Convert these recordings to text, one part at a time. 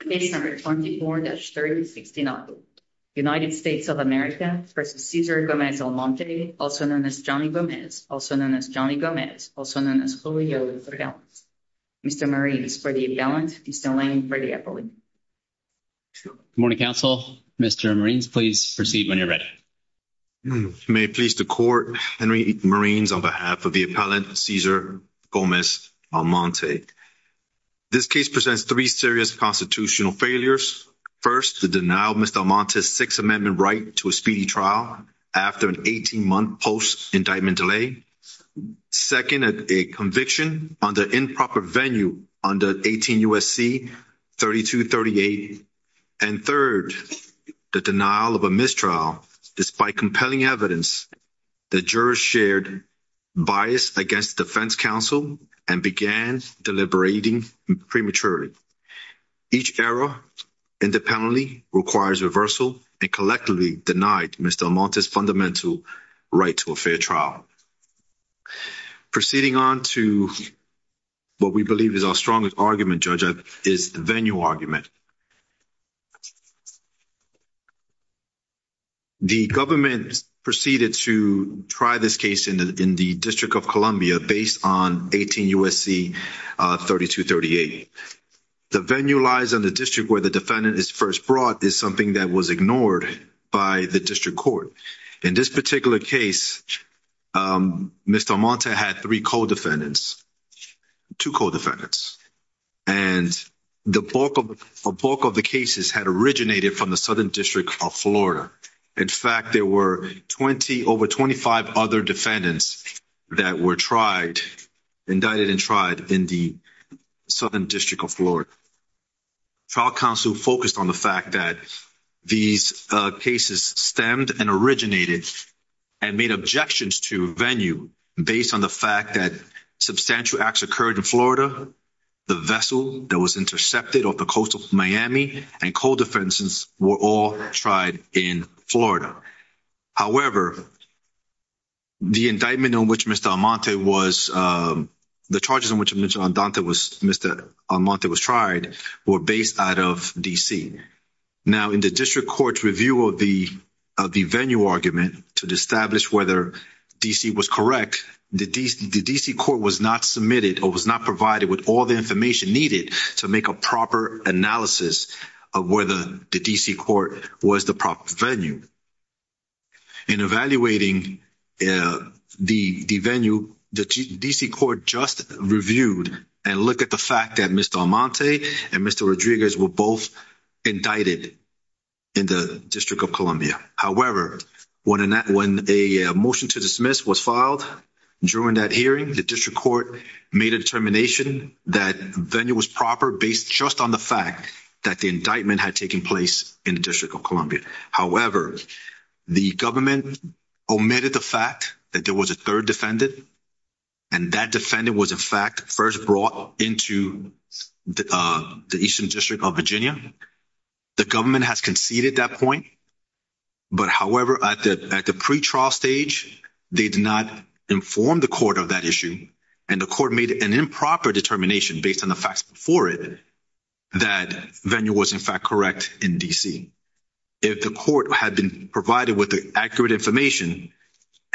Case number 24-3069. United States of America v. Cesar Gomez Almonte, also known as Johnny Gomez, also known as Julio Luther Gales. Mr. Marines, for the appellant, Mr. Lane, for the appellant. Good morning, counsel. Mr. Marines, please proceed when you're ready. May it please the court, Henry Marines, on behalf of the appellant, Cesar Gomez Almonte. This case presents three serious constitutional failures. First, the denial of Mr. Almonte's Sixth Amendment right to a speedy trial after an 18-month post-indictment delay. Second, a conviction on the improper venue under 18 U.S.C. 3238. And third, the denial of a mistrial despite compelling evidence that jurors shared bias against the defense counsel and began deliberating prematurely. Each error independently requires reversal and collectively denied Mr. Almonte's fundamental right to a fair trial. Proceeding on to what we believe is our strongest argument, Judge, is the venue argument. The government proceeded to try this case in the District of Columbia based on 18 U.S.C. 3238. The venue lies on the district where the defendant is first brought is something that was ignored by the district court. In this particular case, Mr. Almonte had three co-defendants, two co-defendants, and the bulk of the cases had originated from the Southern District of Florida. In fact, there were over 25 other defendants that were tried, indicted and tried, in the Southern District of Florida. Trial counsel focused on the fact that these cases stemmed and originated and made objections to venue based on the fact that substantial acts occurred in Florida, the vessel that was intercepted off the coast of Miami, and co-defendants were all tried in Florida. However, the indictment on which Mr. Almonte was, the charges on which Mr. Almonte was tried were based out of D.C. Now, in the district court's review of the venue argument to establish whether D.C. was correct, the D.C. court was not submitted or was not provided with all the information needed to make a proper analysis of whether the D.C. court was the proper venue. In evaluating the venue, the D.C. court just reviewed and looked at the fact that Mr. Almonte and Mr. Rodriguez were both indicted in the District of Columbia. However, when a motion to dismiss was filed during that hearing, the district court made a determination that venue was proper based just on the fact that the indictment had taken place in the District of Columbia. However, the government omitted the fact that there was a third defendant, and that defendant was, in fact, first brought into the Eastern District of Virginia. The government has conceded that point, but however, at the pretrial stage, they did not inform the court of that issue, and the court made an improper determination based on the facts before it that venue was, in fact, correct in D.C. If the court had been provided with the accurate information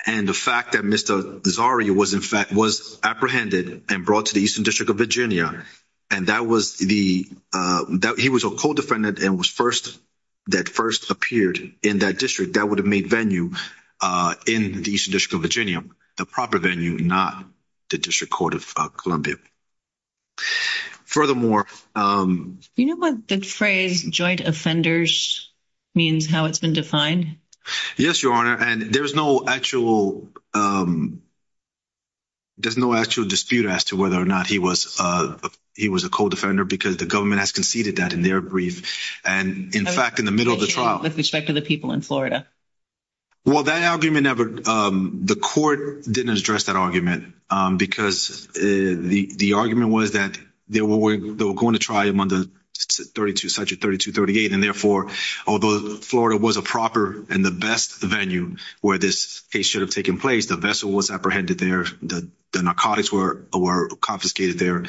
and the fact that Mr. Zaria was, in fact, apprehended and brought to the Eastern District of Virginia, and he was a co-defendant that first appeared in that district, that would have made venue in the Eastern District of Virginia the proper venue, not the District Court of Columbia. Furthermore... Do you know what the phrase joint offenders means, how it's been defined? Yes, Your Honor, and there's no actual dispute as to whether or not he was a co-defender because the government has conceded that in their brief, and in fact, in the middle of the trial. With respect to the people in Florida. Well, that argument never – the court didn't address that argument because the argument was that they were going to try him on the 32, section 3238, and therefore, although Florida was a proper and the best venue where this case should have taken place, the vessel was apprehended there, the narcotics were confiscated there.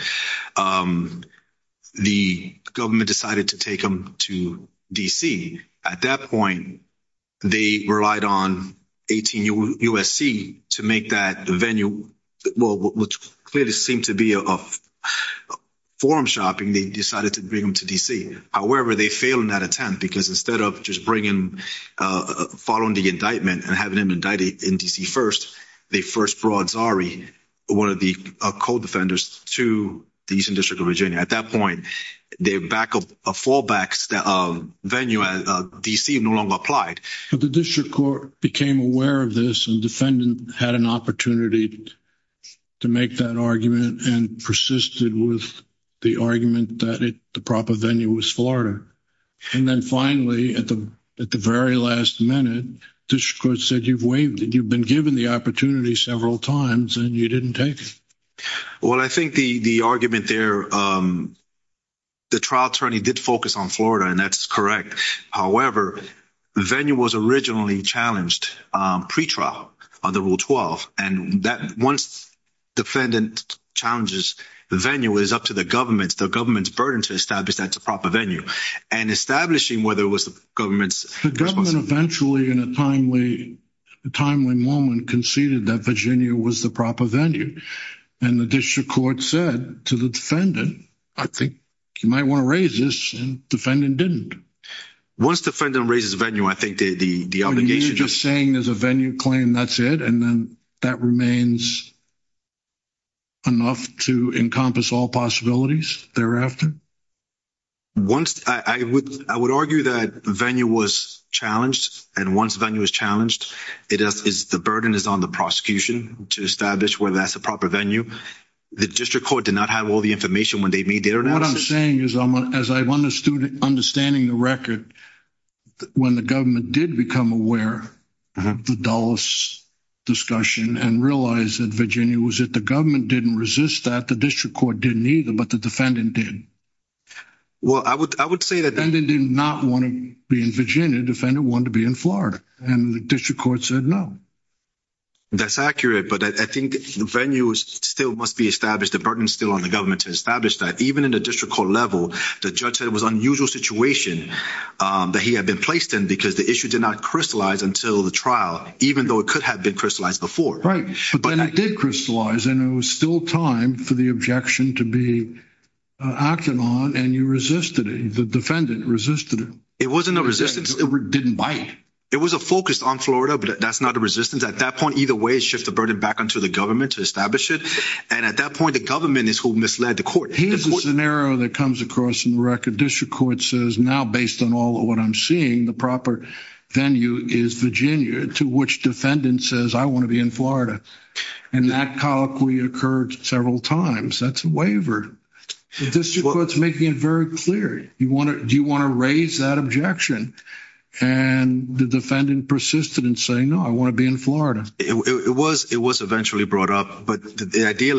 The government decided to take him to D.C. At that point, they relied on 18 U.S.C. to make that the venue, which clearly seemed to be a forum shopping, they decided to bring him to D.C. However, they failed in that attempt because instead of just bringing – following the indictment and having him indicted in D.C. first, they first brought Zari, one of the co-defenders, to the Eastern District of Virginia. At that point, the fallback venue at D.C. no longer applied. But the district court became aware of this and the defendant had an opportunity to make that argument and persisted with the argument that the proper venue was Florida. And then finally, at the very last minute, the district court said, you've been given the opportunity several times and you didn't take it. Well, I think the argument there – the trial attorney did focus on Florida, and that's correct. However, the venue was originally challenged pre-trial under Rule 12. And once the defendant challenges the venue, it is up to the government, the government's burden to establish that it's a proper venue. And establishing whether it was the government's responsibility. The government eventually, in a timely moment, conceded that Virginia was the proper venue. And the district court said to the defendant, I think you might want to raise this, and the defendant didn't. Once the defendant raises the venue, I think the obligation – You're just saying there's a venue claim, that's it, and then that remains enough to encompass all possibilities thereafter? I would argue that the venue was challenged, and once the venue is challenged, the burden is on the prosecution to establish whether that's a proper venue. The district court did not have all the information when they made their analysis. What I'm saying is, as I'm understanding the record, when the government did become aware of the Dulles discussion and realized that Virginia was it, Well, I would say that – The defendant did not want to be in Virginia. The defendant wanted to be in Florida. And the district court said no. That's accurate, but I think the venue still must be established. The burden is still on the government to establish that. Even in the district court level, the judge said it was an unusual situation that he had been placed in, because the issue did not crystallize until the trial, even though it could have been crystallized before. Right, but then it did crystallize, and it was still time for the objection to be acted on, and you resisted it. The defendant resisted it. It wasn't a resistance. It didn't bite. It was a focus on Florida, but that's not a resistance. At that point, either way, it shifts the burden back onto the government to establish it. And at that point, the government is who misled the court. Here's a scenario that comes across in the record. The district court says now, based on all of what I'm seeing, the proper venue is Virginia, to which defendant says, I want to be in Florida. And that colloquy occurred several times. That's a waiver. The district court's making it very clear. Do you want to raise that objection? And the defendant persisted in saying, no, I want to be in Florida. It was eventually brought up, but the idea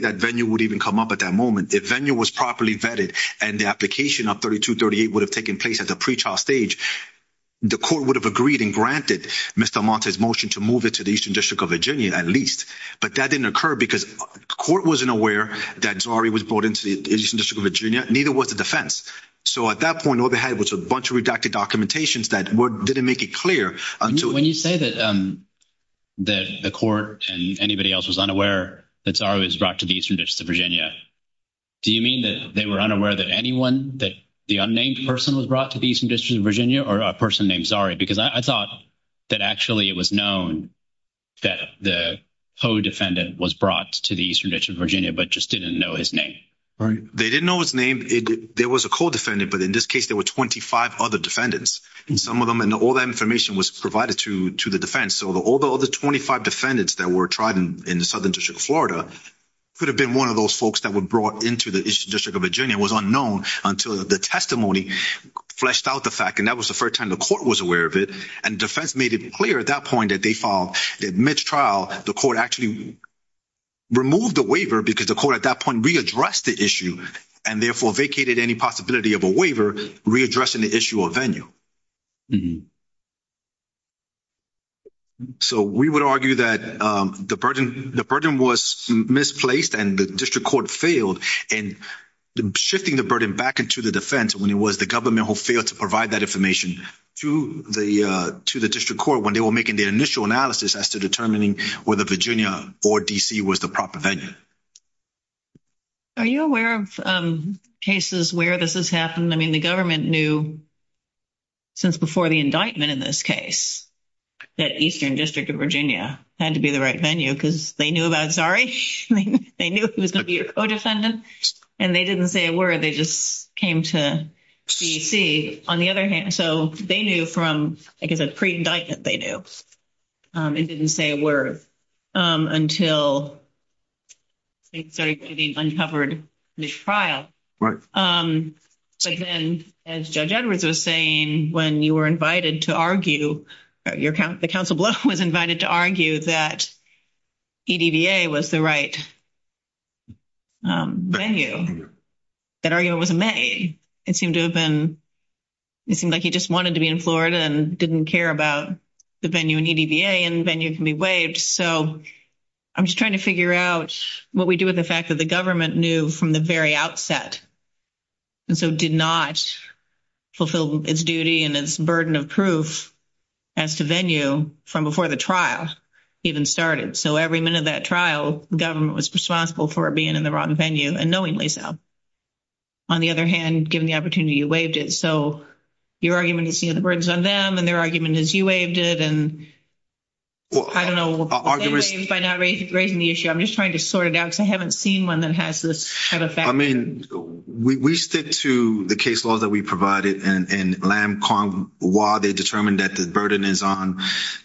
that venue would even come up at that moment, if venue was properly vetted and the application of 3238 would have taken place at the pre-trial stage, the court would have agreed and granted Mr. Amante's motion to move it to the Eastern District of Virginia at least. But that didn't occur because the court wasn't aware that Zari was brought into the Eastern District of Virginia, neither was the defense. So at that point, overhead was a bunch of redacted documentations that didn't make it clear. When you say that the court and anybody else was unaware that Zari was brought to the Eastern District of Virginia, do you mean that they were unaware that anyone, that the unnamed person was brought to the Eastern District of Virginia, or a person named Zari? Because I thought that actually it was known that the co-defendant was brought to the Eastern District of Virginia, but just didn't know his name. They didn't know his name. There was a co-defendant, but in this case, there were 25 other defendants. And some of them, and all that information was provided to the defense. So all the other 25 defendants that were tried in the Southern District of Florida could have been one of those folks that were brought into the Eastern District of Virginia. It was unknown until the testimony fleshed out the fact. And that was the first time the court was aware of it. And the defense made it clear at that point that they filed. At mid-trial, the court actually removed the waiver because the court at that point readdressed the issue and therefore vacated any possibility of a waiver readdressing the issue of venue. So we would argue that the burden was misplaced and the district court failed in shifting the burden back into the defense when it was the government who failed to provide that information to the district court when they were making the initial analysis as to determining whether Virginia or D.C. was the proper venue. Are you aware of cases where this has happened? I mean, the government knew since before the indictment in this case that Eastern District of Virginia had to be the right venue because they knew about Zari. They knew he was going to be your co-defendant. And they didn't say a word. They just came to D.C. So they knew from, like I said, pre-indictment, they knew. It didn't say a word until things started getting uncovered at mid-trial. Right. But then, as Judge Edwards was saying, when you were invited to argue, the counsel below was invited to argue that EDVA was the right venue, that argument was made. It seemed like he just wanted to be in Florida and didn't care about the venue in EDVA, and venue can be waived. So I'm just trying to figure out what we do with the fact that the government knew from the very outset and so did not fulfill its duty and its burden of proof as to venue from before the trial even started. So every minute of that trial, the government was responsible for it being in the wrong venue, and knowingly so. On the other hand, given the opportunity, you waived it. So your argument is the burden is on them, and their argument is you waived it. And I don't know. By not raising the issue, I'm just trying to sort it out because I haven't seen one that has this kind of fact. I mean, we stick to the case law that we provided, and LAM, CONG, WA, they determined that the burden is on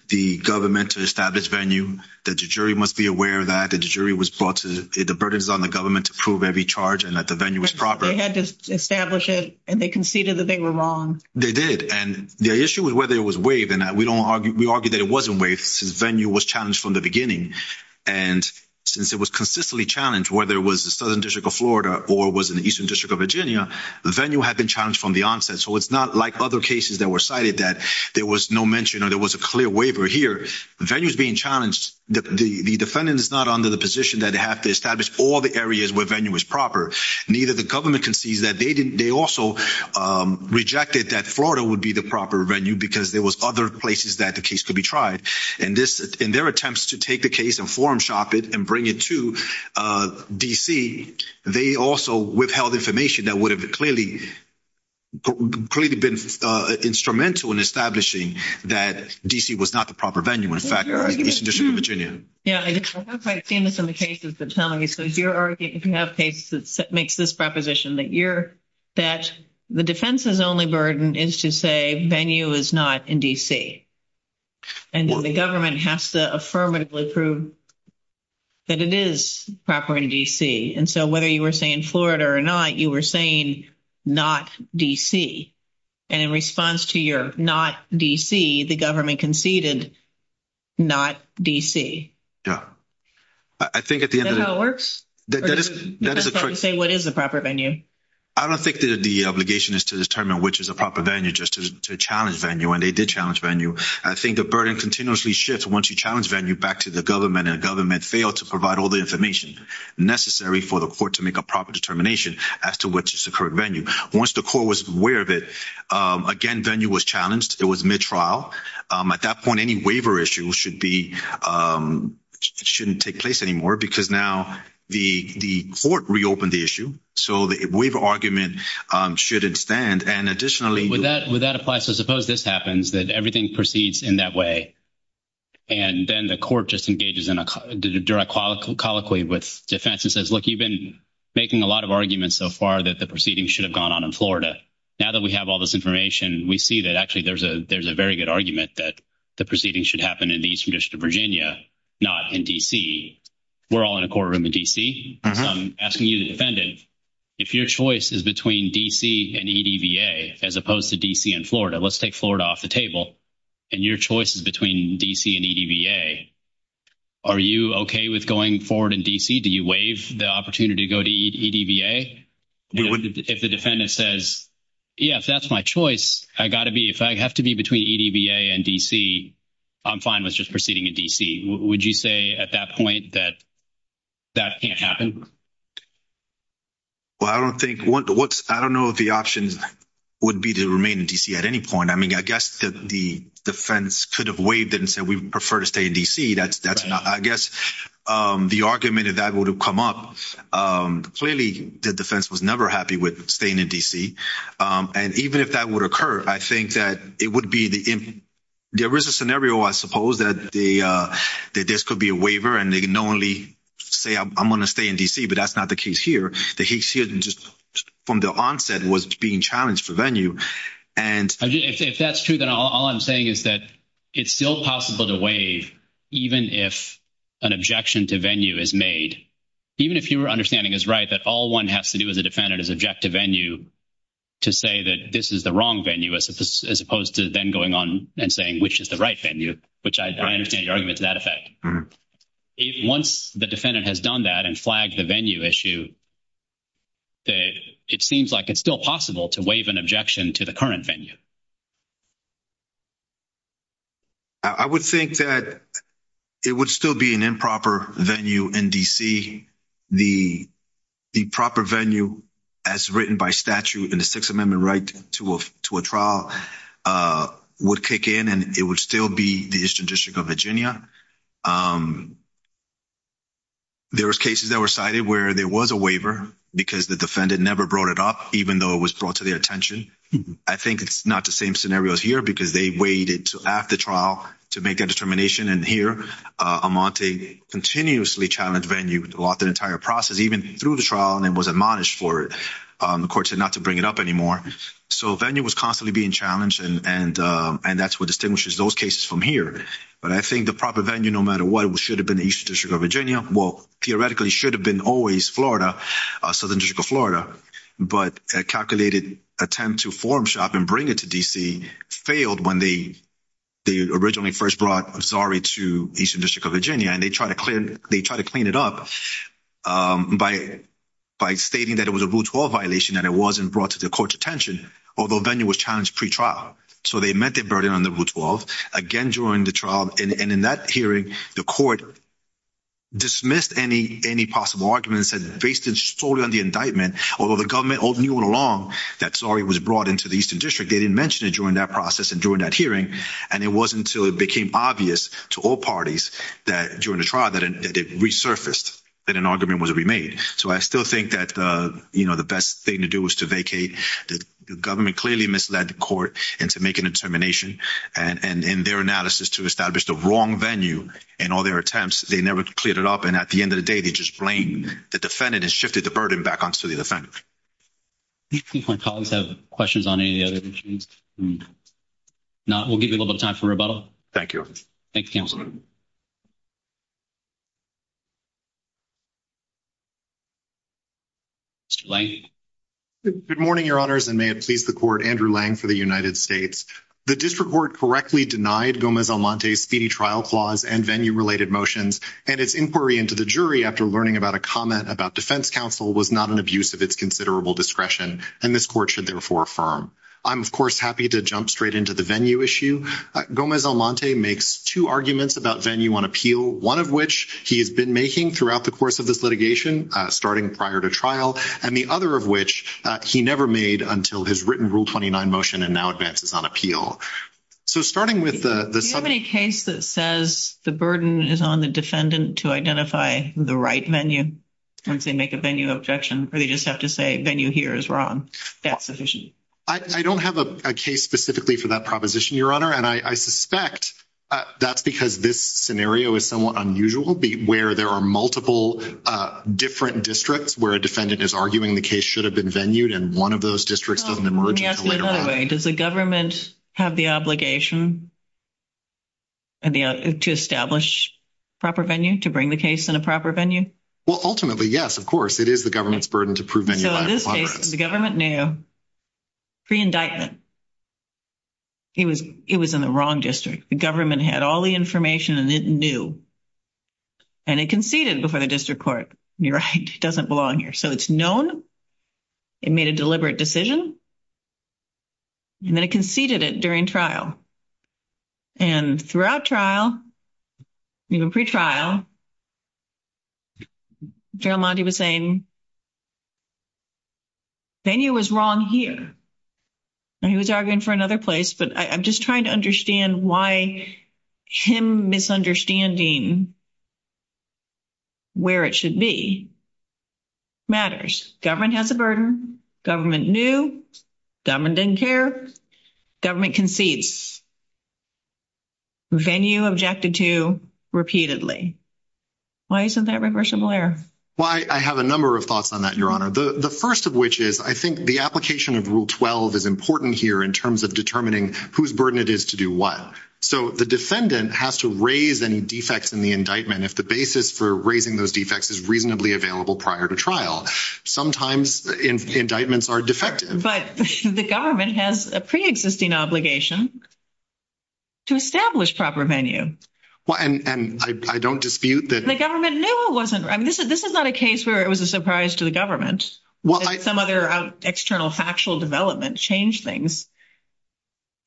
the government to establish venue, that the jury must be aware of that, that the jury was brought to—the burden is on the government to prove every charge and that the venue is proper. They had to establish it, and they conceded that they were wrong. They did, and the issue was whether it was waived. And we argue that it wasn't waived since venue was challenged from the beginning. And since it was consistently challenged, whether it was the Southern District of Florida or was in the Eastern District of Virginia, the venue had been challenged from the onset. So it's not like other cases that were cited that there was no mention or there was a clear waiver here. Venue is being challenged. The defendant is not under the position that they have to establish all the areas where venue is proper. Neither the government concedes that. They also rejected that Florida would be the proper venue because there was other places that the case could be tried. And in their attempts to take the case and forum shop it and bring it to D.C., they also withheld information that would have clearly been instrumental in establishing that D.C. was not the proper venue, in fact, in the Eastern District of Virginia. Yeah, I have seen this in the cases that tell me. So if you have cases that makes this proposition that the defense's only burden is to say venue is not in D.C. And the government has to affirmatively prove that it is proper in D.C. And so whether you were saying Florida or not, you were saying not D.C. And in response to your not D.C., the government conceded not D.C. Yeah. I think at the end of the day. Is that how it works? Or do you just say what is the proper venue? I don't think that the obligation is to determine which is the proper venue, just to challenge venue. And they did challenge venue. I think the burden continuously shifts once you challenge venue back to the government. And the government failed to provide all the information necessary for the court to make a proper determination as to which is the correct venue. Once the court was aware of it, again, venue was challenged. It was mid-trial. At that point, any waiver issue shouldn't take place anymore because now the court reopened the issue. So the waiver argument shouldn't stand. Would that apply? So suppose this happens, that everything proceeds in that way. And then the court just engages in a direct colloquy with defense and says, look, you've been making a lot of arguments so far that the proceedings should have gone on in Florida. Now that we have all this information, we see that actually there's a very good argument that the proceedings should happen in the Eastern District of Virginia, not in D.C. We're all in a courtroom in D.C. So I'm asking you, the defendant, if your choice is between D.C. and EDVA as opposed to D.C. and Florida, let's take Florida off the table. And your choice is between D.C. and EDVA, are you okay with going forward in D.C.? Do you waive the opportunity to go to EDVA? If the defendant says, yeah, if that's my choice, I've got to be, if I have to be between EDVA and D.C., I'm fine with just proceeding in D.C. Would you say at that point that that can't happen? Well, I don't think, I don't know if the option would be to remain in D.C. at any point. I mean, I guess the defense could have waived it and said, we prefer to stay in D.C. I guess the argument of that would have come up. Clearly, the defense was never happy with staying in D.C. And even if that would occur, I think that it would be, there is a scenario, I suppose, that this could be a waiver and they can only say, I'm going to stay in D.C. But that's not the case here. The case here, just from the onset, was being challenged for venue and If that's true, then all I'm saying is that it's still possible to waive even if an objection to venue is made. Even if your understanding is right that all one has to do as a defendant is object to venue to say that this is the wrong venue as opposed to then going on and saying which is the right venue, which I understand your argument to that effect. If once the defendant has done that and flagged the venue issue, it seems like it's still possible to waive an objection to the current venue. I would think that it would still be an improper venue in D.C. The proper venue as written by statute in the Sixth Amendment right to a trial would kick in and it would still be the Eastern District of Virginia. There was cases that were cited where there was a waiver because the defendant never brought it up, even though it was brought to their attention. I think it's not the same scenario as here because they waited until after the trial to make that determination. And here, Amante continuously challenged venue throughout the entire process, even through the trial, and it was admonished for it. The court said not to bring it up anymore. So venue was constantly being challenged, and that's what distinguishes those cases from here. But I think the proper venue, no matter what, should have been the Eastern District of Virginia. Well, theoretically should have been always Florida, Southern District of Florida. But a calculated attempt to form shop and bring it to D.C. failed when they originally first brought Zari to Eastern District of Virginia. And they tried to clean it up by stating that it was a Rule 12 violation and it wasn't brought to the court's attention, although venue was challenged pre-trial. So they met their burden on the Rule 12 again during the trial. And in that hearing, the court dismissed any possible arguments and based it solely on the indictment. Although the government knew all along that Zari was brought into the Eastern District, they didn't mention it during that process and during that hearing. And it wasn't until it became obvious to all parties that during the trial that it resurfaced, that an argument was remade. So I still think that the best thing to do was to vacate. The government clearly misled the court into making a determination. And in their analysis to establish the wrong venue in all their attempts, they never cleared it up. And at the end of the day, they just blamed the defendant and shifted the burden back onto the defendant. Do my colleagues have questions on any of the other issues? We'll give you a little bit of time for rebuttal. Thank you. Thank you, Counselor. Mr. Lange? Good morning, Your Honors, and may it please the Court, Andrew Lange for the United States. The District Court correctly denied Gomez-Almonte's speedy trial clause and venue-related motions, and its inquiry into the jury after learning about a comment about defense counsel was not an abuse of its considerable discretion, and this Court should therefore affirm. I'm, of course, happy to jump straight into the venue issue. Gomez-Almonte makes two arguments about venue on appeal, one of which he has been making throughout the course of this litigation, starting prior to trial, and the other of which he never made until his written Rule 29 motion and now advances on appeal. So starting with the – Do you have any case that says the burden is on the defendant to identify the right venue once they make a venue objection, or they just have to say venue here is wrong? That's sufficient? I don't have a case specifically for that proposition, Your Honor, and I suspect that's because this scenario is somewhat unusual, where there are multiple different districts where a defendant is arguing the case should have been venued, and one of those districts doesn't emerge until later on. Let me ask you another way. Does the government have the obligation to establish proper venue, to bring the case in a proper venue? Well, ultimately, yes, of course. It is the government's burden to prove venue by compliance. In this case, the government knew pre-indictment. It was in the wrong district. The government had all the information, and it knew. And it conceded before the district court. You're right. It doesn't belong here. So it's known it made a deliberate decision, and then it conceded it during trial. And throughout trial, even pre-trial, General Monti was saying venue is wrong here. He was arguing for another place, but I'm just trying to understand why him misunderstanding where it should be matters. Government has a burden. Government knew. Government didn't care. Government concedes. Venue objected to repeatedly. Why isn't that reversible error? Well, I have a number of thoughts on that, Your Honor. The first of which is I think the application of Rule 12 is important here in terms of determining whose burden it is to do what. So the defendant has to raise any defects in the indictment if the basis for raising those defects is reasonably available prior to trial. Sometimes indictments are defective. But the government has a preexisting obligation to establish proper venue. And I don't dispute that. The government knew it wasn't. This is not a case where it was a surprise to the government. Some other external factual development changed things.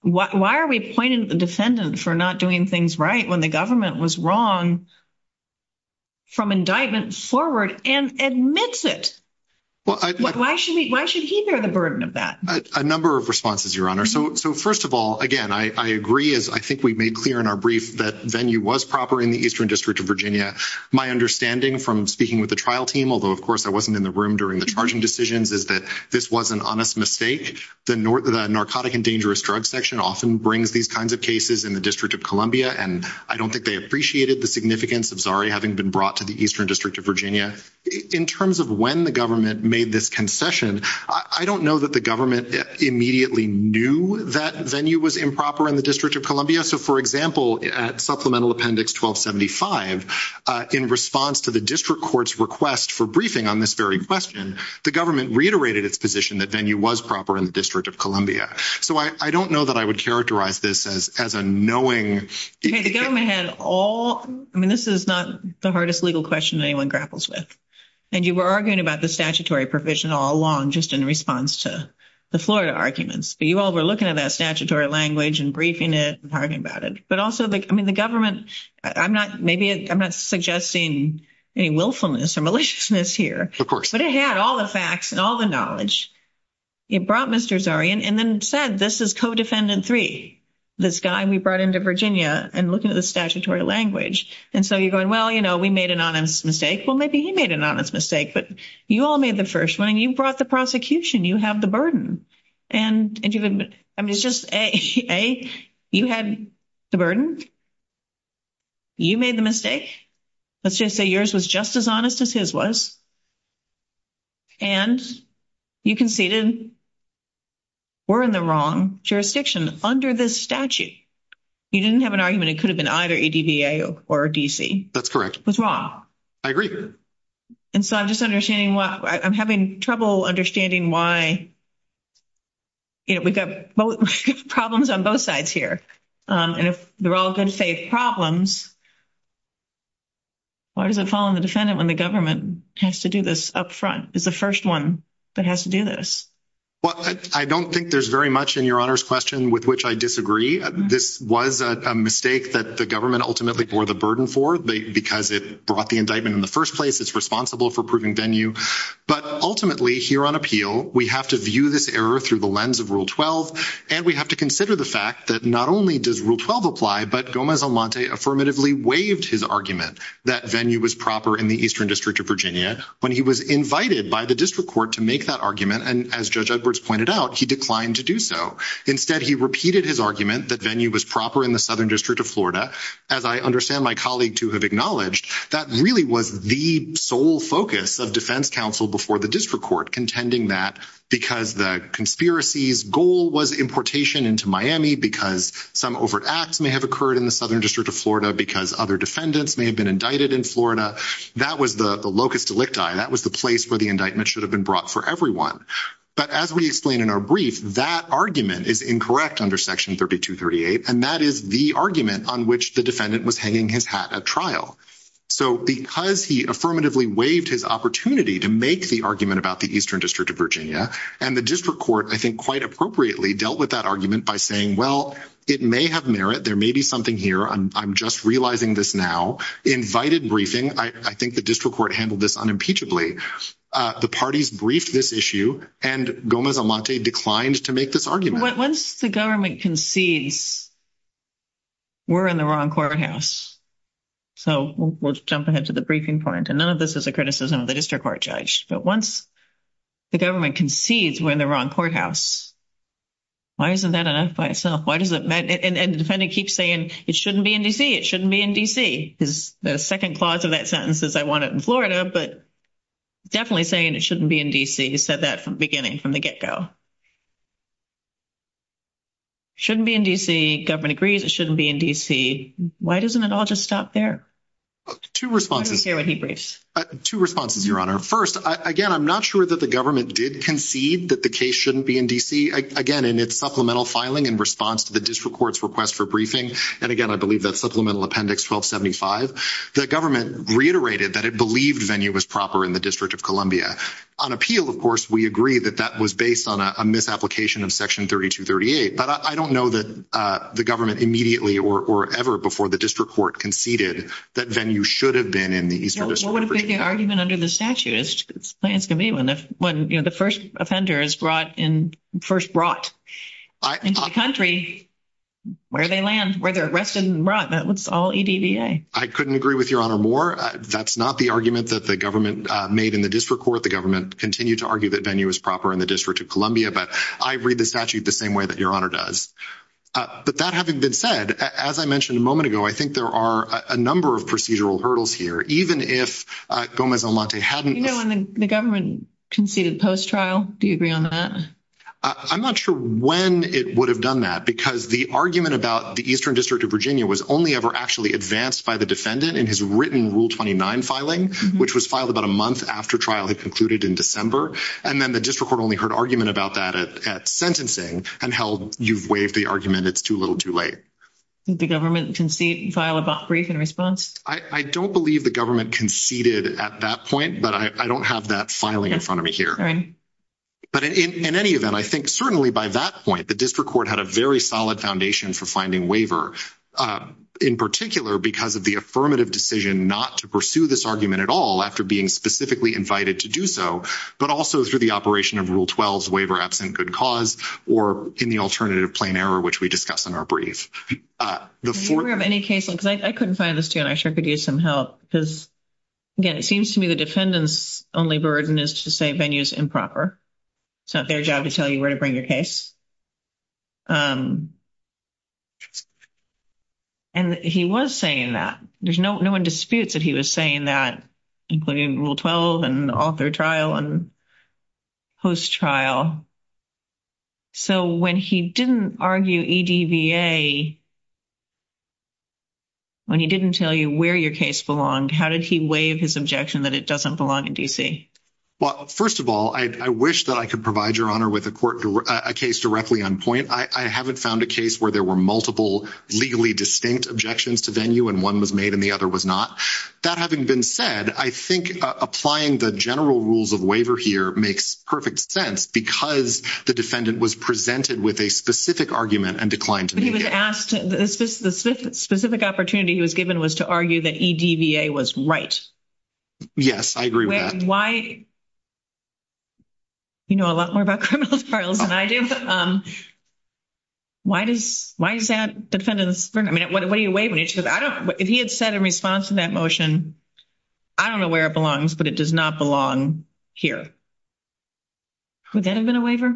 Why are we pointing at the defendant for not doing things right when the government was wrong from indictment forward and admits it? Why should he bear the burden of that? A number of responses, Your Honor. So first of all, again, I agree as I think we made clear in our brief that venue was proper in the Eastern District of Virginia. My understanding from speaking with the trial team, although, of course, I wasn't in the room during the charging decisions, is that this was an honest mistake. The narcotic and dangerous drug section often brings these kinds of cases in the District of Columbia. And I don't think they appreciated the significance of Zari having been brought to the Eastern District of Virginia. In terms of when the government made this concession, I don't know that the government immediately knew that venue was improper in the District of Columbia. So, for example, at Supplemental Appendix 1275, in response to the district court's request for briefing on this very question, the government reiterated its position that venue was proper in the District of Columbia. So I don't know that I would characterize this as a knowing. The government had all – I mean, this is not the hardest legal question anyone grapples with. And you were arguing about the statutory provision all along just in response to the Florida arguments. But you all were looking at that statutory language and briefing it and talking about it. But also, I mean, the government – I'm not – maybe I'm not suggesting any willfulness or maliciousness here. Of course. But it had all the facts and all the knowledge. It brought Mr. Zari and then said, this is Codefendant 3, this guy we brought into Virginia, and looking at the statutory language. And so you're going, well, you know, we made an honest mistake. Well, maybe he made an honest mistake. But you all made the first one. And you brought the prosecution. You have the burden. And I mean, it's just, A, you had the burden. You made the mistake. Let's just say yours was just as honest as his was. And you conceded we're in the wrong jurisdiction under this statute. You didn't have an argument. It could have been either ADBA or D.C. That's correct. It was wrong. I agree. And so I'm just understanding why – I'm having trouble understanding why, you know, we've got problems on both sides here. And if they're all good-faith problems, why does it fall on the defendant when the government has to do this up front, is the first one that has to do this? Well, I don't think there's very much in Your Honor's question with which I disagree. This was a mistake that the government ultimately bore the burden for because it brought the indictment in the first place. It's responsible for proving venue. But ultimately, here on appeal, we have to view this error through the lens of Rule 12. And we have to consider the fact that not only does Rule 12 apply, but Gomez-Almonte affirmatively waived his argument that venue was proper in the Eastern District of Virginia when he was invited by the district court to make that argument. And as Judge Edwards pointed out, he declined to do so. Instead, he repeated his argument that venue was proper in the Southern District of Florida. And that, as I understand my colleague to have acknowledged, that really was the sole focus of defense counsel before the district court contending that because the conspiracy's goal was importation into Miami because some overt acts may have occurred in the Southern District of Florida because other defendants may have been indicted in Florida. That was the locus delicti. That was the place where the indictment should have been brought for everyone. But as we explain in our brief, that argument is incorrect under Section 3238, and that is the argument on which the defendant was hanging his hat at trial. So, because he affirmatively waived his opportunity to make the argument about the Eastern District of Virginia, and the district court, I think, quite appropriately dealt with that argument by saying, well, it may have merit. There may be something here. I'm just realizing this now. Invited briefing. I think the district court handled this unimpeachably. The parties briefed this issue, and Gomez-Elmonte declined to make this argument. Once the government concedes we're in the wrong courthouse. So, we'll jump ahead to the briefing point. And none of this is a criticism of the district court judge. But once the government concedes we're in the wrong courthouse, why isn't that enough by itself? And the defendant keeps saying it shouldn't be in D.C. It shouldn't be in D.C. The second clause of that sentence is I want it in Florida, but definitely saying it shouldn't be in D.C. He said that from the beginning, from the get-go. Shouldn't be in D.C. Government agrees it shouldn't be in D.C. Why doesn't it all just stop there? Two responses. Let's hear what he briefs. Two responses, Your Honor. First, again, I'm not sure that the government did concede that the case shouldn't be in D.C., again, in its supplemental filing in response to the district court's request for briefing. And, again, I believe that supplemental appendix 1275. The government reiterated that it believed Venue was proper in the District of Columbia. On appeal, of course, we agree that that was based on a misapplication of section 3238. But I don't know that the government immediately or ever before the district court conceded that Venue should have been in the Eastern District of Virginia. I think the argument under the statute is when the first offender is first brought into the country, where they land, where they're arrested and brought, that's all EDVA. I couldn't agree with Your Honor more. That's not the argument that the government made in the district court. The government continued to argue that Venue was proper in the District of Columbia. But I read the statute the same way that Your Honor does. But that having been said, as I mentioned a moment ago, I think there are a number of procedural hurdles here. Even if Gomez-Elmonte hadn't – You know when the government conceded post-trial, do you agree on that? I'm not sure when it would have done that because the argument about the Eastern District of Virginia was only ever actually advanced by the defendant in his written Rule 29 filing, which was filed about a month after trial had concluded in December. And then the district court only heard argument about that at sentencing and held you've waived the argument. It's too little too late. Did the government file a brief in response? I don't believe the government conceded at that point, but I don't have that filing in front of me here. All right. But in any event, I think certainly by that point, the district court had a very solid foundation for finding waiver, in particular because of the affirmative decision not to pursue this argument at all after being specifically invited to do so. But also through the operation of Rule 12's waiver absent good cause or in the alternative plain error, which we discussed in our brief. Do we have any case – because I couldn't find this, too, and I sure could use some help because, again, it seems to me the defendant's only burden is to say venue is improper. It's not their job to tell you where to bring your case. And he was saying that. No one disputes that he was saying that, including Rule 12 and author trial and host trial. So when he didn't argue EDVA, when he didn't tell you where your case belonged, how did he waive his objection that it doesn't belong in D.C.? Well, first of all, I wish that I could provide Your Honor with a case directly on point. I haven't found a case where there were multiple legally distinct objections to venue and one was made and the other was not. That having been said, I think applying the general rules of waiver here makes perfect sense because the defendant was presented with a specific argument and declined to make it. But he was asked – the specific opportunity he was given was to argue that EDVA was right. Yes, I agree with that. I mean, why – you know a lot more about criminal trials than I do. Why does that defendant – I mean, what do you waive when it's – if he had said in response to that motion, I don't know where it belongs, but it does not belong here, would that have been a waiver?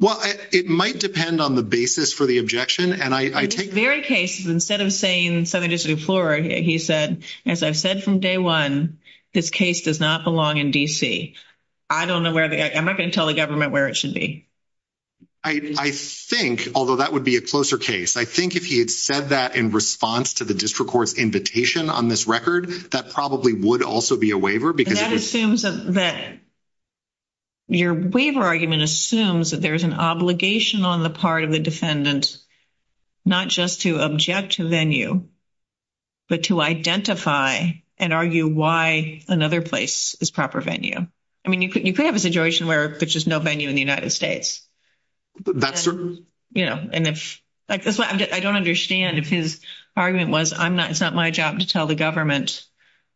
Well, it might depend on the basis for the objection. In this very case, instead of saying Southern District of Florida, he said, as I've said from day one, this case does not belong in D.C. I don't know where – I'm not going to tell the government where it should be. I think, although that would be a closer case, I think if he had said that in response to the district court's invitation on this record, that probably would also be a waiver because it was – Your waiver argument assumes that there's an obligation on the part of the defendant not just to object to venue, but to identify and argue why another place is proper venue. I mean, you could have a situation where there's just no venue in the United States. That's true. I don't understand if his argument was it's not my job to tell the government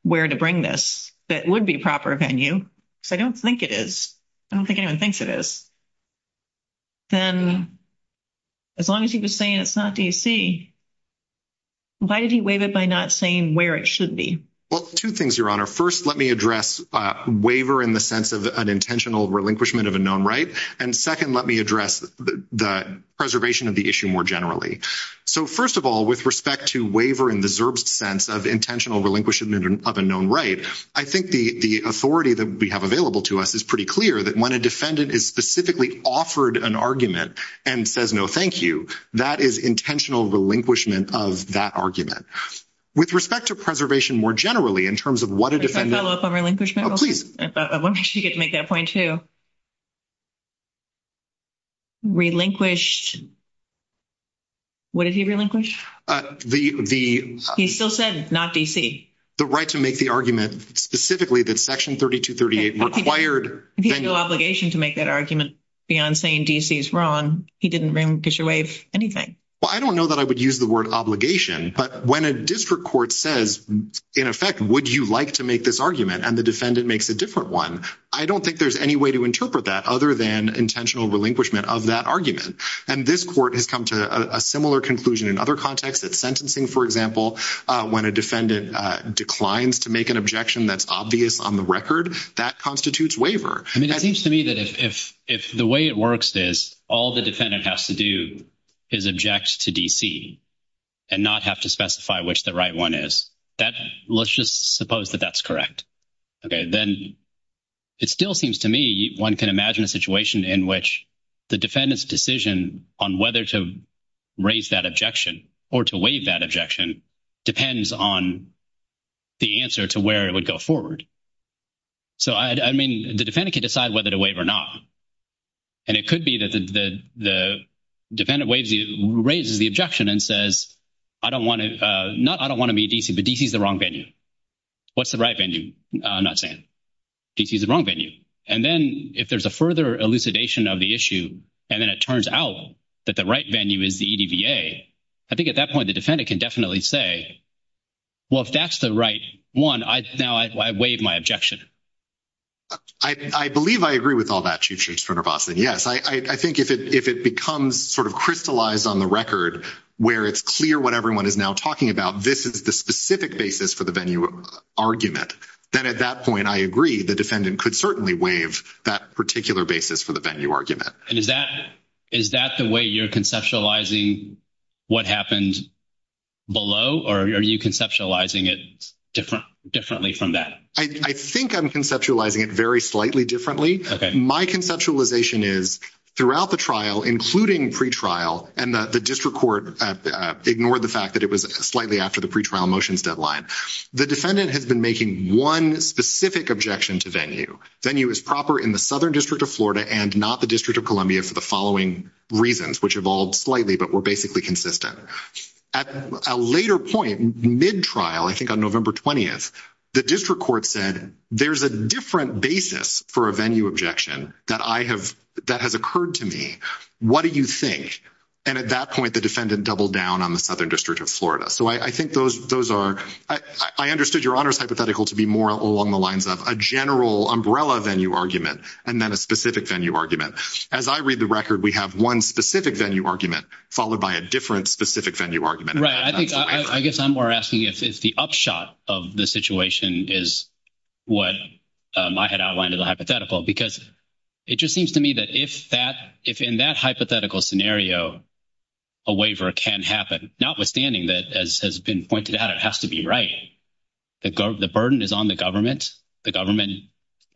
where to bring this that would be proper venue because I don't think it is. I don't think anyone thinks it is. Then as long as he was saying it's not D.C., why did he waive it by not saying where it should be? Well, two things, Your Honor. First, let me address waiver in the sense of an intentional relinquishment of a known right, and second, let me address the preservation of the issue more generally. So, first of all, with respect to waiver in the ZERB's sense of intentional relinquishment of a known right, I think the authority that we have available to us is pretty clear that when a defendant is specifically offered an argument and says no, thank you, that is intentional relinquishment of that argument. With respect to preservation more generally in terms of what a defendant Can I follow up on relinquishment? Oh, please. I want to make sure you get to make that point, too. Relinquished, what did he relinquish? The He still said not D.C. The right to make the argument specifically that Section 3238 required If he had no obligation to make that argument beyond saying D.C. is wrong, he didn't relinquish or waive anything. Well, I don't know that I would use the word obligation, but when a district court says, in effect, would you like to make this argument and the defendant makes a different one, I don't think there's any way to interpret that other than intentional relinquishment of that argument. And this court has come to a similar conclusion in other contexts that sentencing, for example, when a defendant declines to make an objection that's obvious on the record, that constitutes waiver. I mean, it seems to me that if the way it works is all the defendant has to do is object to D.C. And not have to specify which the right one is that let's just suppose that that's correct. Okay, then it still seems to me one can imagine a situation in which the defendant's decision on whether to raise that objection or to waive that objection depends on the answer to where it would go forward. So, I mean, the defendant can decide whether to waive or not. And it could be that the defendant raises the objection and says, I don't want to be D.C., but D.C. is the wrong venue. What's the right venue? I'm not saying. D.C. is the wrong venue. And then if there's a further elucidation of the issue, and then it turns out that the right venue is the EDVA, I think at that point the defendant can definitely say, well, if that's the right one, now I waive. I believe I agree with all that. Yes, I think if it becomes sort of crystallized on the record where it's clear what everyone is now talking about, this is the specific basis for the venue argument. Then at that point, I agree the defendant could certainly waive that particular basis for the venue argument. And is that the way you're conceptualizing what happened below, or are you conceptualizing it differently from that? I think I'm conceptualizing it very slightly differently. My conceptualization is throughout the trial, including pretrial, and the district court ignored the fact that it was slightly after the pretrial motions deadline, the defendant has been making one specific objection to venue. Venue is proper in the Southern District of Florida and not the District of Columbia for the following reasons, which evolved slightly but were basically consistent. At a later point, mid-trial, I think on November 20th, the district court said, there's a different basis for a venue objection that has occurred to me. What do you think? And at that point, the defendant doubled down on the Southern District of Florida. I understood your honors hypothetical to be more along the lines of a general umbrella venue argument and then a specific venue argument. As I read the record, we have one specific venue argument followed by a different specific venue argument. I guess I'm more asking if the upshot of the situation is what I had outlined in the hypothetical. Because it just seems to me that if in that hypothetical scenario, a waiver can happen, notwithstanding that, as has been pointed out, it has to be right. The burden is on the government. The government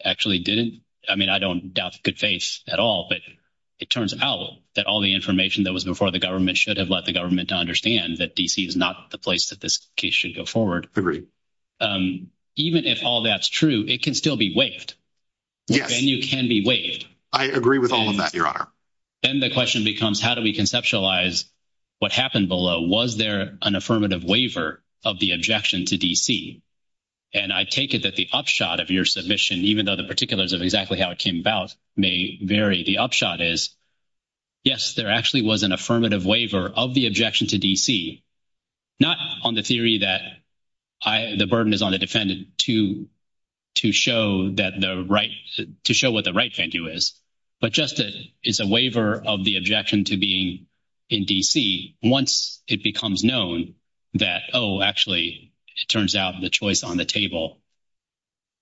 actually didn't. I mean, I don't doubt good faith at all, but it turns out that all the information that was before the government should have let the government understand that D.C. is not the place that this case should go forward. Even if all that's true, it can still be waived. Yes. Venue can be waived. I agree with all of that, your honor. Then the question becomes, how do we conceptualize what happened below? Was there an affirmative waiver of the objection to D.C.? And I take it that the upshot of your submission, even though the particulars of exactly how it came about may vary, the upshot is, yes, there actually was an affirmative waiver of the objection to D.C. Not on the theory that the burden is on the defendant to show what the right thing to do is, but just as a waiver of the objection to being in D.C., once it becomes known that, oh, actually, it turns out the choice on the table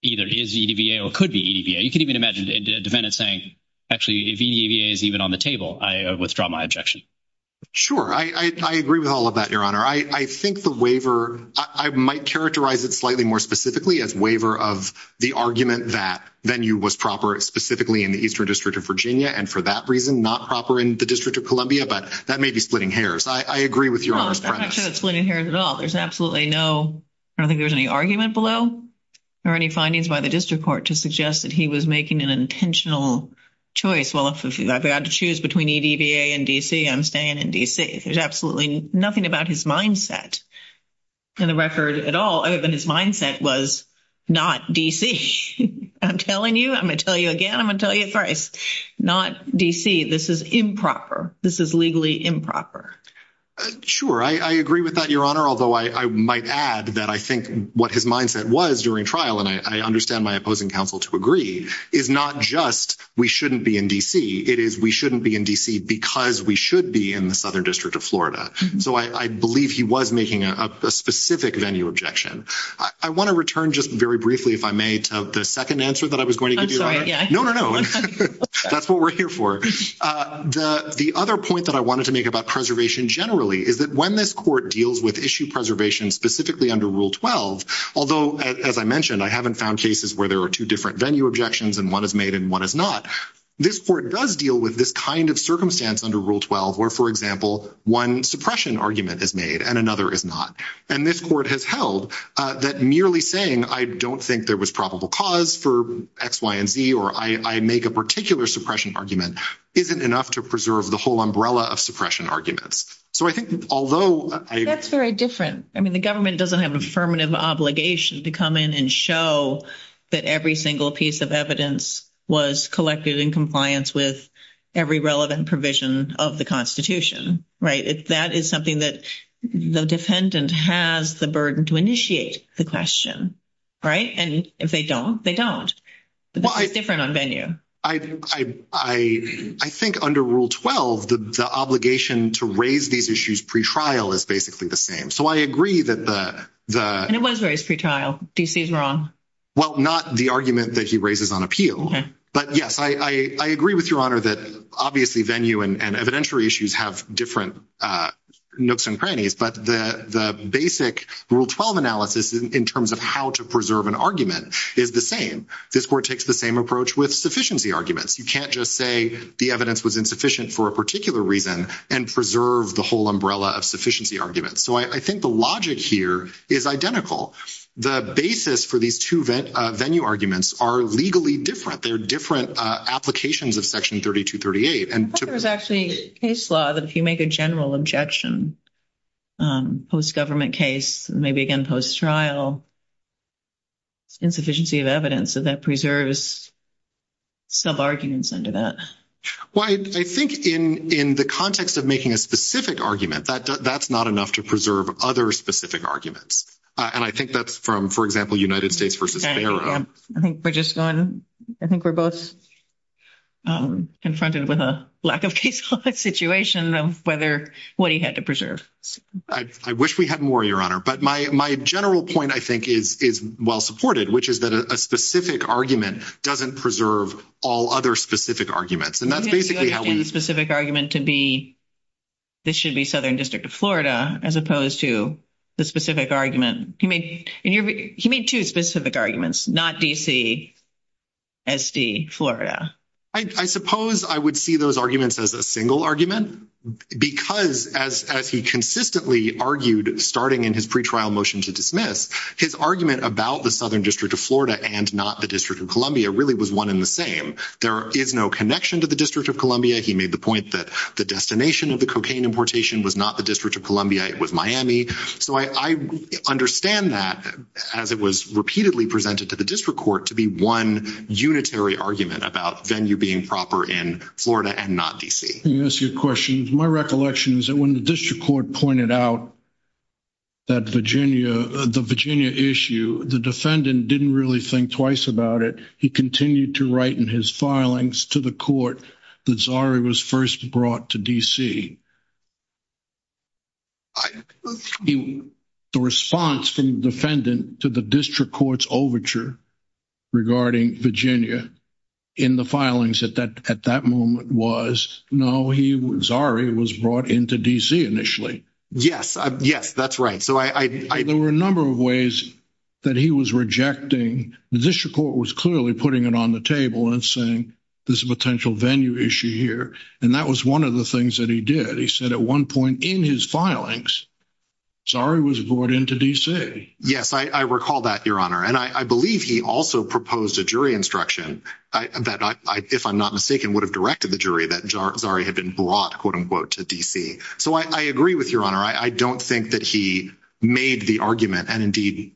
either is EDVA or could be EDVA. You can even imagine a defendant saying, actually, if EDVA is even on the table, I withdraw my objection. Sure. I agree with all of that, your honor. I think the waiver, I might characterize it slightly more specifically as waiver of the argument that venue was proper specifically in the Eastern District of Virginia, and for that reason, not proper in the District of Columbia, but that may be splitting hairs. I agree with your honor's premise. I'm not sure it's splitting hairs at all. There's absolutely no, I don't think there's any argument below or any findings by the district court to suggest that he was making an intentional choice. Well, if I had to choose between EDVA and D.C., I'm staying in D.C. There's absolutely nothing about his mindset in the record at all, other than his mindset was not D.C. I'm telling you, I'm going to tell you again, I'm going to tell you thrice, not D.C. This is improper. This is legally improper. Sure. I agree with that, your honor, although I might add that I think what his mindset was during trial, and I understand my opposing counsel to agree, is not just we shouldn't be in D.C. It is we shouldn't be in D.C. because we should be in the Southern District of Florida. So I believe he was making a specific venue objection. I want to return just very briefly, if I may, to the second answer that I was going to give you, your honor. Yeah. No, no, no. That's what we're here for. The other point that I wanted to make about preservation generally is that when this court deals with issue preservation specifically under Rule 12, although, as I mentioned, I haven't found cases where there are two different venue objections and one is made and one is not, this court does deal with this kind of circumstance under Rule 12 where, for example, one suppression argument is made and another is not. And this court has held that merely saying, I don't think there was probable cause for X, Y, and Z, or I make a particular suppression argument isn't enough to preserve the whole umbrella of suppression arguments. So I think, although— That's very different. I mean, the government doesn't have an affirmative obligation to come in and show that every single piece of evidence was collected in compliance with every relevant provision of the Constitution, right? That is something that the defendant has the burden to initiate the question, right? And if they don't, they don't. But that's different on venue. I think under Rule 12, the obligation to raise these issues pretrial is basically the same. So I agree that the— And it was raised pretrial. D.C. is wrong. Well, not the argument that he raises on appeal. But, yes, I agree with Your Honor that obviously venue and evidentiary issues have different nooks and crannies. But the basic Rule 12 analysis in terms of how to preserve an argument is the same. This court takes the same approach with sufficiency arguments. You can't just say the evidence was insufficient for a particular reason and preserve the whole umbrella of sufficiency arguments. So I think the logic here is identical. The basis for these two venue arguments are legally different. They're different applications of Section 3238. I thought there was actually a case law that if you make a general objection, post-government case, maybe again post-trial, it's insufficiency of evidence, so that preserves sub-arguments under that. Well, I think in the context of making a specific argument, that's not enough to preserve other specific arguments. And I think that's from, for example, United States v. Ferro. I think we're both confronted with a lack of case law situation of what he had to preserve. I wish we had more, Your Honor. But my general point, I think, is well-supported, which is that a specific argument doesn't preserve all other specific arguments. And that's basically how we— You're making the specific argument to be this should be Southern District of Florida as opposed to the specific argument. He made two specific arguments, not D.C., S.D., Florida. I suppose I would see those arguments as a single argument because as he consistently argued starting in his pretrial motion to dismiss, his argument about the Southern District of Florida and not the District of Columbia really was one and the same. There is no connection to the District of Columbia. He made the point that the destination of the cocaine importation was not the District of Columbia. It was Miami. So I understand that as it was repeatedly presented to the district court to be one unitary argument about venue being proper in Florida and not D.C. Let me ask you a question. My recollection is that when the district court pointed out that Virginia, the Virginia issue, the defendant didn't really think twice about it. He continued to write in his filings to the court that Zari was first brought to D.C. The response from the defendant to the district court's overture regarding Virginia in the filings at that moment was, no, Zari was brought into D.C. initially. Yes. Yes, that's right. There were a number of ways that he was rejecting. The district court was clearly putting it on the table and saying there's a potential venue issue here. And that was one of the things that he did. He said at one point in his filings, Zari was brought into D.C. Yes, I recall that, Your Honor. And I believe he also proposed a jury instruction that, if I'm not mistaken, would have directed the jury that Zari had been brought, quote, unquote, to D.C. So I agree with Your Honor. I don't think that he made the argument and, indeed,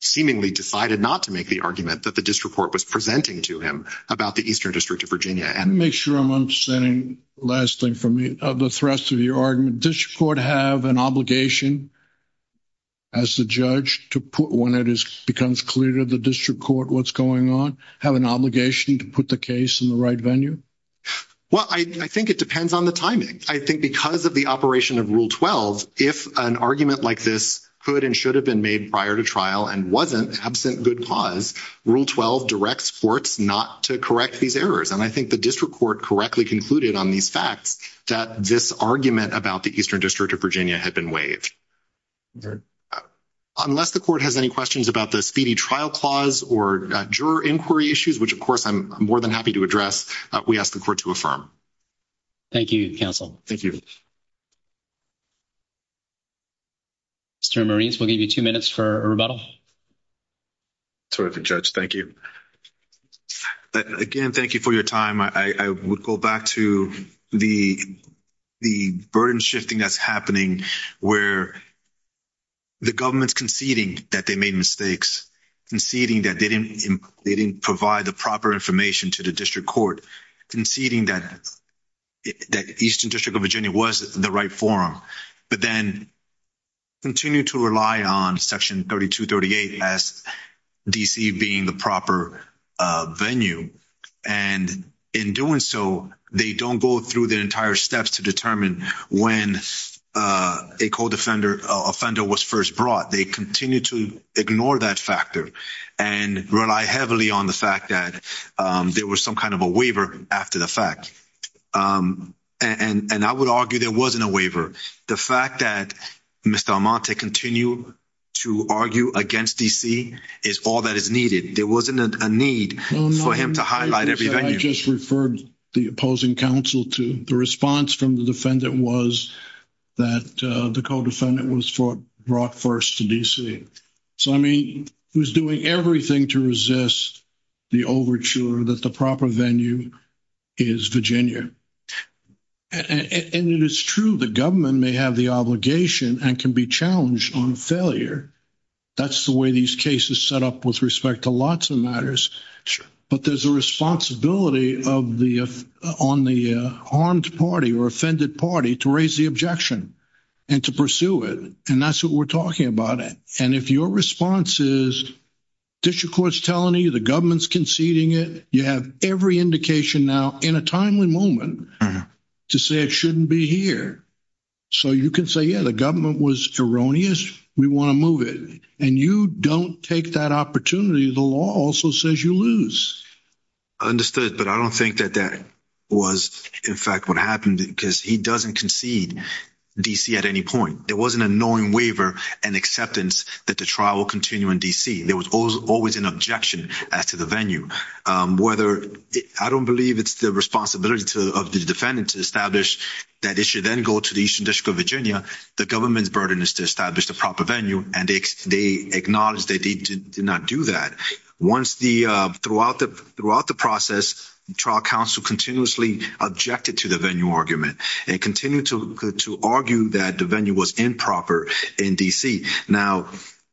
seemingly decided not to make the argument that the district court was presenting to him about the Eastern District of Virginia. Let me make sure I'm understanding the last thing from the thrust of your argument. Does the court have an obligation as the judge to put, when it becomes clear to the district court what's going on, have an obligation to put the case in the right venue? Well, I think it depends on the timing. I think because of the operation of Rule 12, if an argument like this could and should have been made prior to trial and wasn't absent good cause, Rule 12 directs courts not to correct these errors. And I think the district court correctly concluded on these facts that this argument about the Eastern District of Virginia had been waived. Unless the court has any questions about the speedy trial clause or juror inquiry issues, which, of course, I'm more than happy to address, we ask the court to affirm. Thank you, counsel. Thank you. Mr. Marines, we'll give you two minutes for a rebuttal. Sorry, Judge. Thank you. Again, thank you for your time. I would go back to the burden shifting that's happening where the government's conceding that they made mistakes, conceding that they didn't provide the proper information to the district court, conceding that Eastern District of Virginia was the right forum. But then continue to rely on Section 3238 as D.C. being the proper venue. And in doing so, they don't go through the entire steps to determine when a code offender was first brought. They continue to ignore that factor and rely heavily on the fact that there was some kind of a waiver after the fact. And I would argue there wasn't a waiver. The fact that Mr. Armante continued to argue against D.C. is all that is needed. There wasn't a need for him to highlight every venue. I just referred the opposing counsel to the response from the defendant was that the code defendant was brought first to D.C. So, I mean, he was doing everything to resist the overture that the proper venue is Virginia. And it is true the government may have the obligation and can be challenged on failure. That's the way these cases set up with respect to lots of matters. But there's a responsibility on the harmed party or offended party to raise the objection and to pursue it. And that's what we're talking about. And if your response is district court's telling you the government's conceding it. You have every indication now in a timely moment to say it shouldn't be here. So, you can say, yeah, the government was erroneous. We want to move it. And you don't take that opportunity. The law also says you lose. I understood. But I don't think that that was, in fact, what happened because he doesn't concede D.C. at any point. There was an annoying waiver and acceptance that the trial will continue in D.C. There was always an objection as to the venue. I don't believe it's the responsibility of the defendant to establish that it should then go to the Eastern District of Virginia. The government's burden is to establish the proper venue. And they acknowledge they did not do that. Throughout the process, trial counsel continuously objected to the venue argument. And continued to argue that the venue was improper in D.C. Now,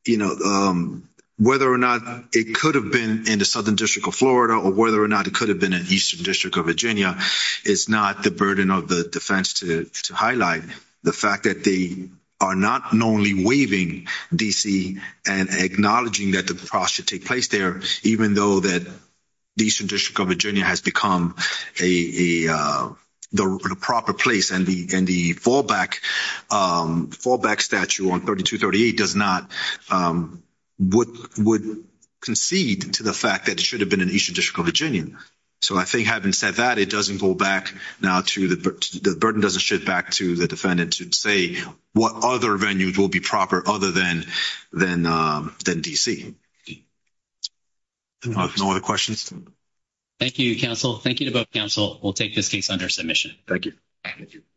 you know, whether or not it could have been in the Southern District of Florida or whether or not it could have been in Eastern District of Virginia, it's not the burden of the defense to highlight the fact that they are not only waiving D.C. and acknowledging that the process should take place there, even though that the Eastern District of Virginia has become a proper place. And the fallback statute on 3238 does not – would concede to the fact that it should have been in Eastern District of Virginia. So I think having said that, it doesn't go back now to – the burden doesn't shift back to the defendant to say what other venues will be proper other than D.C. No other questions? Thank you, counsel. Thank you to both counsel. We'll take this case under submission. Thank you.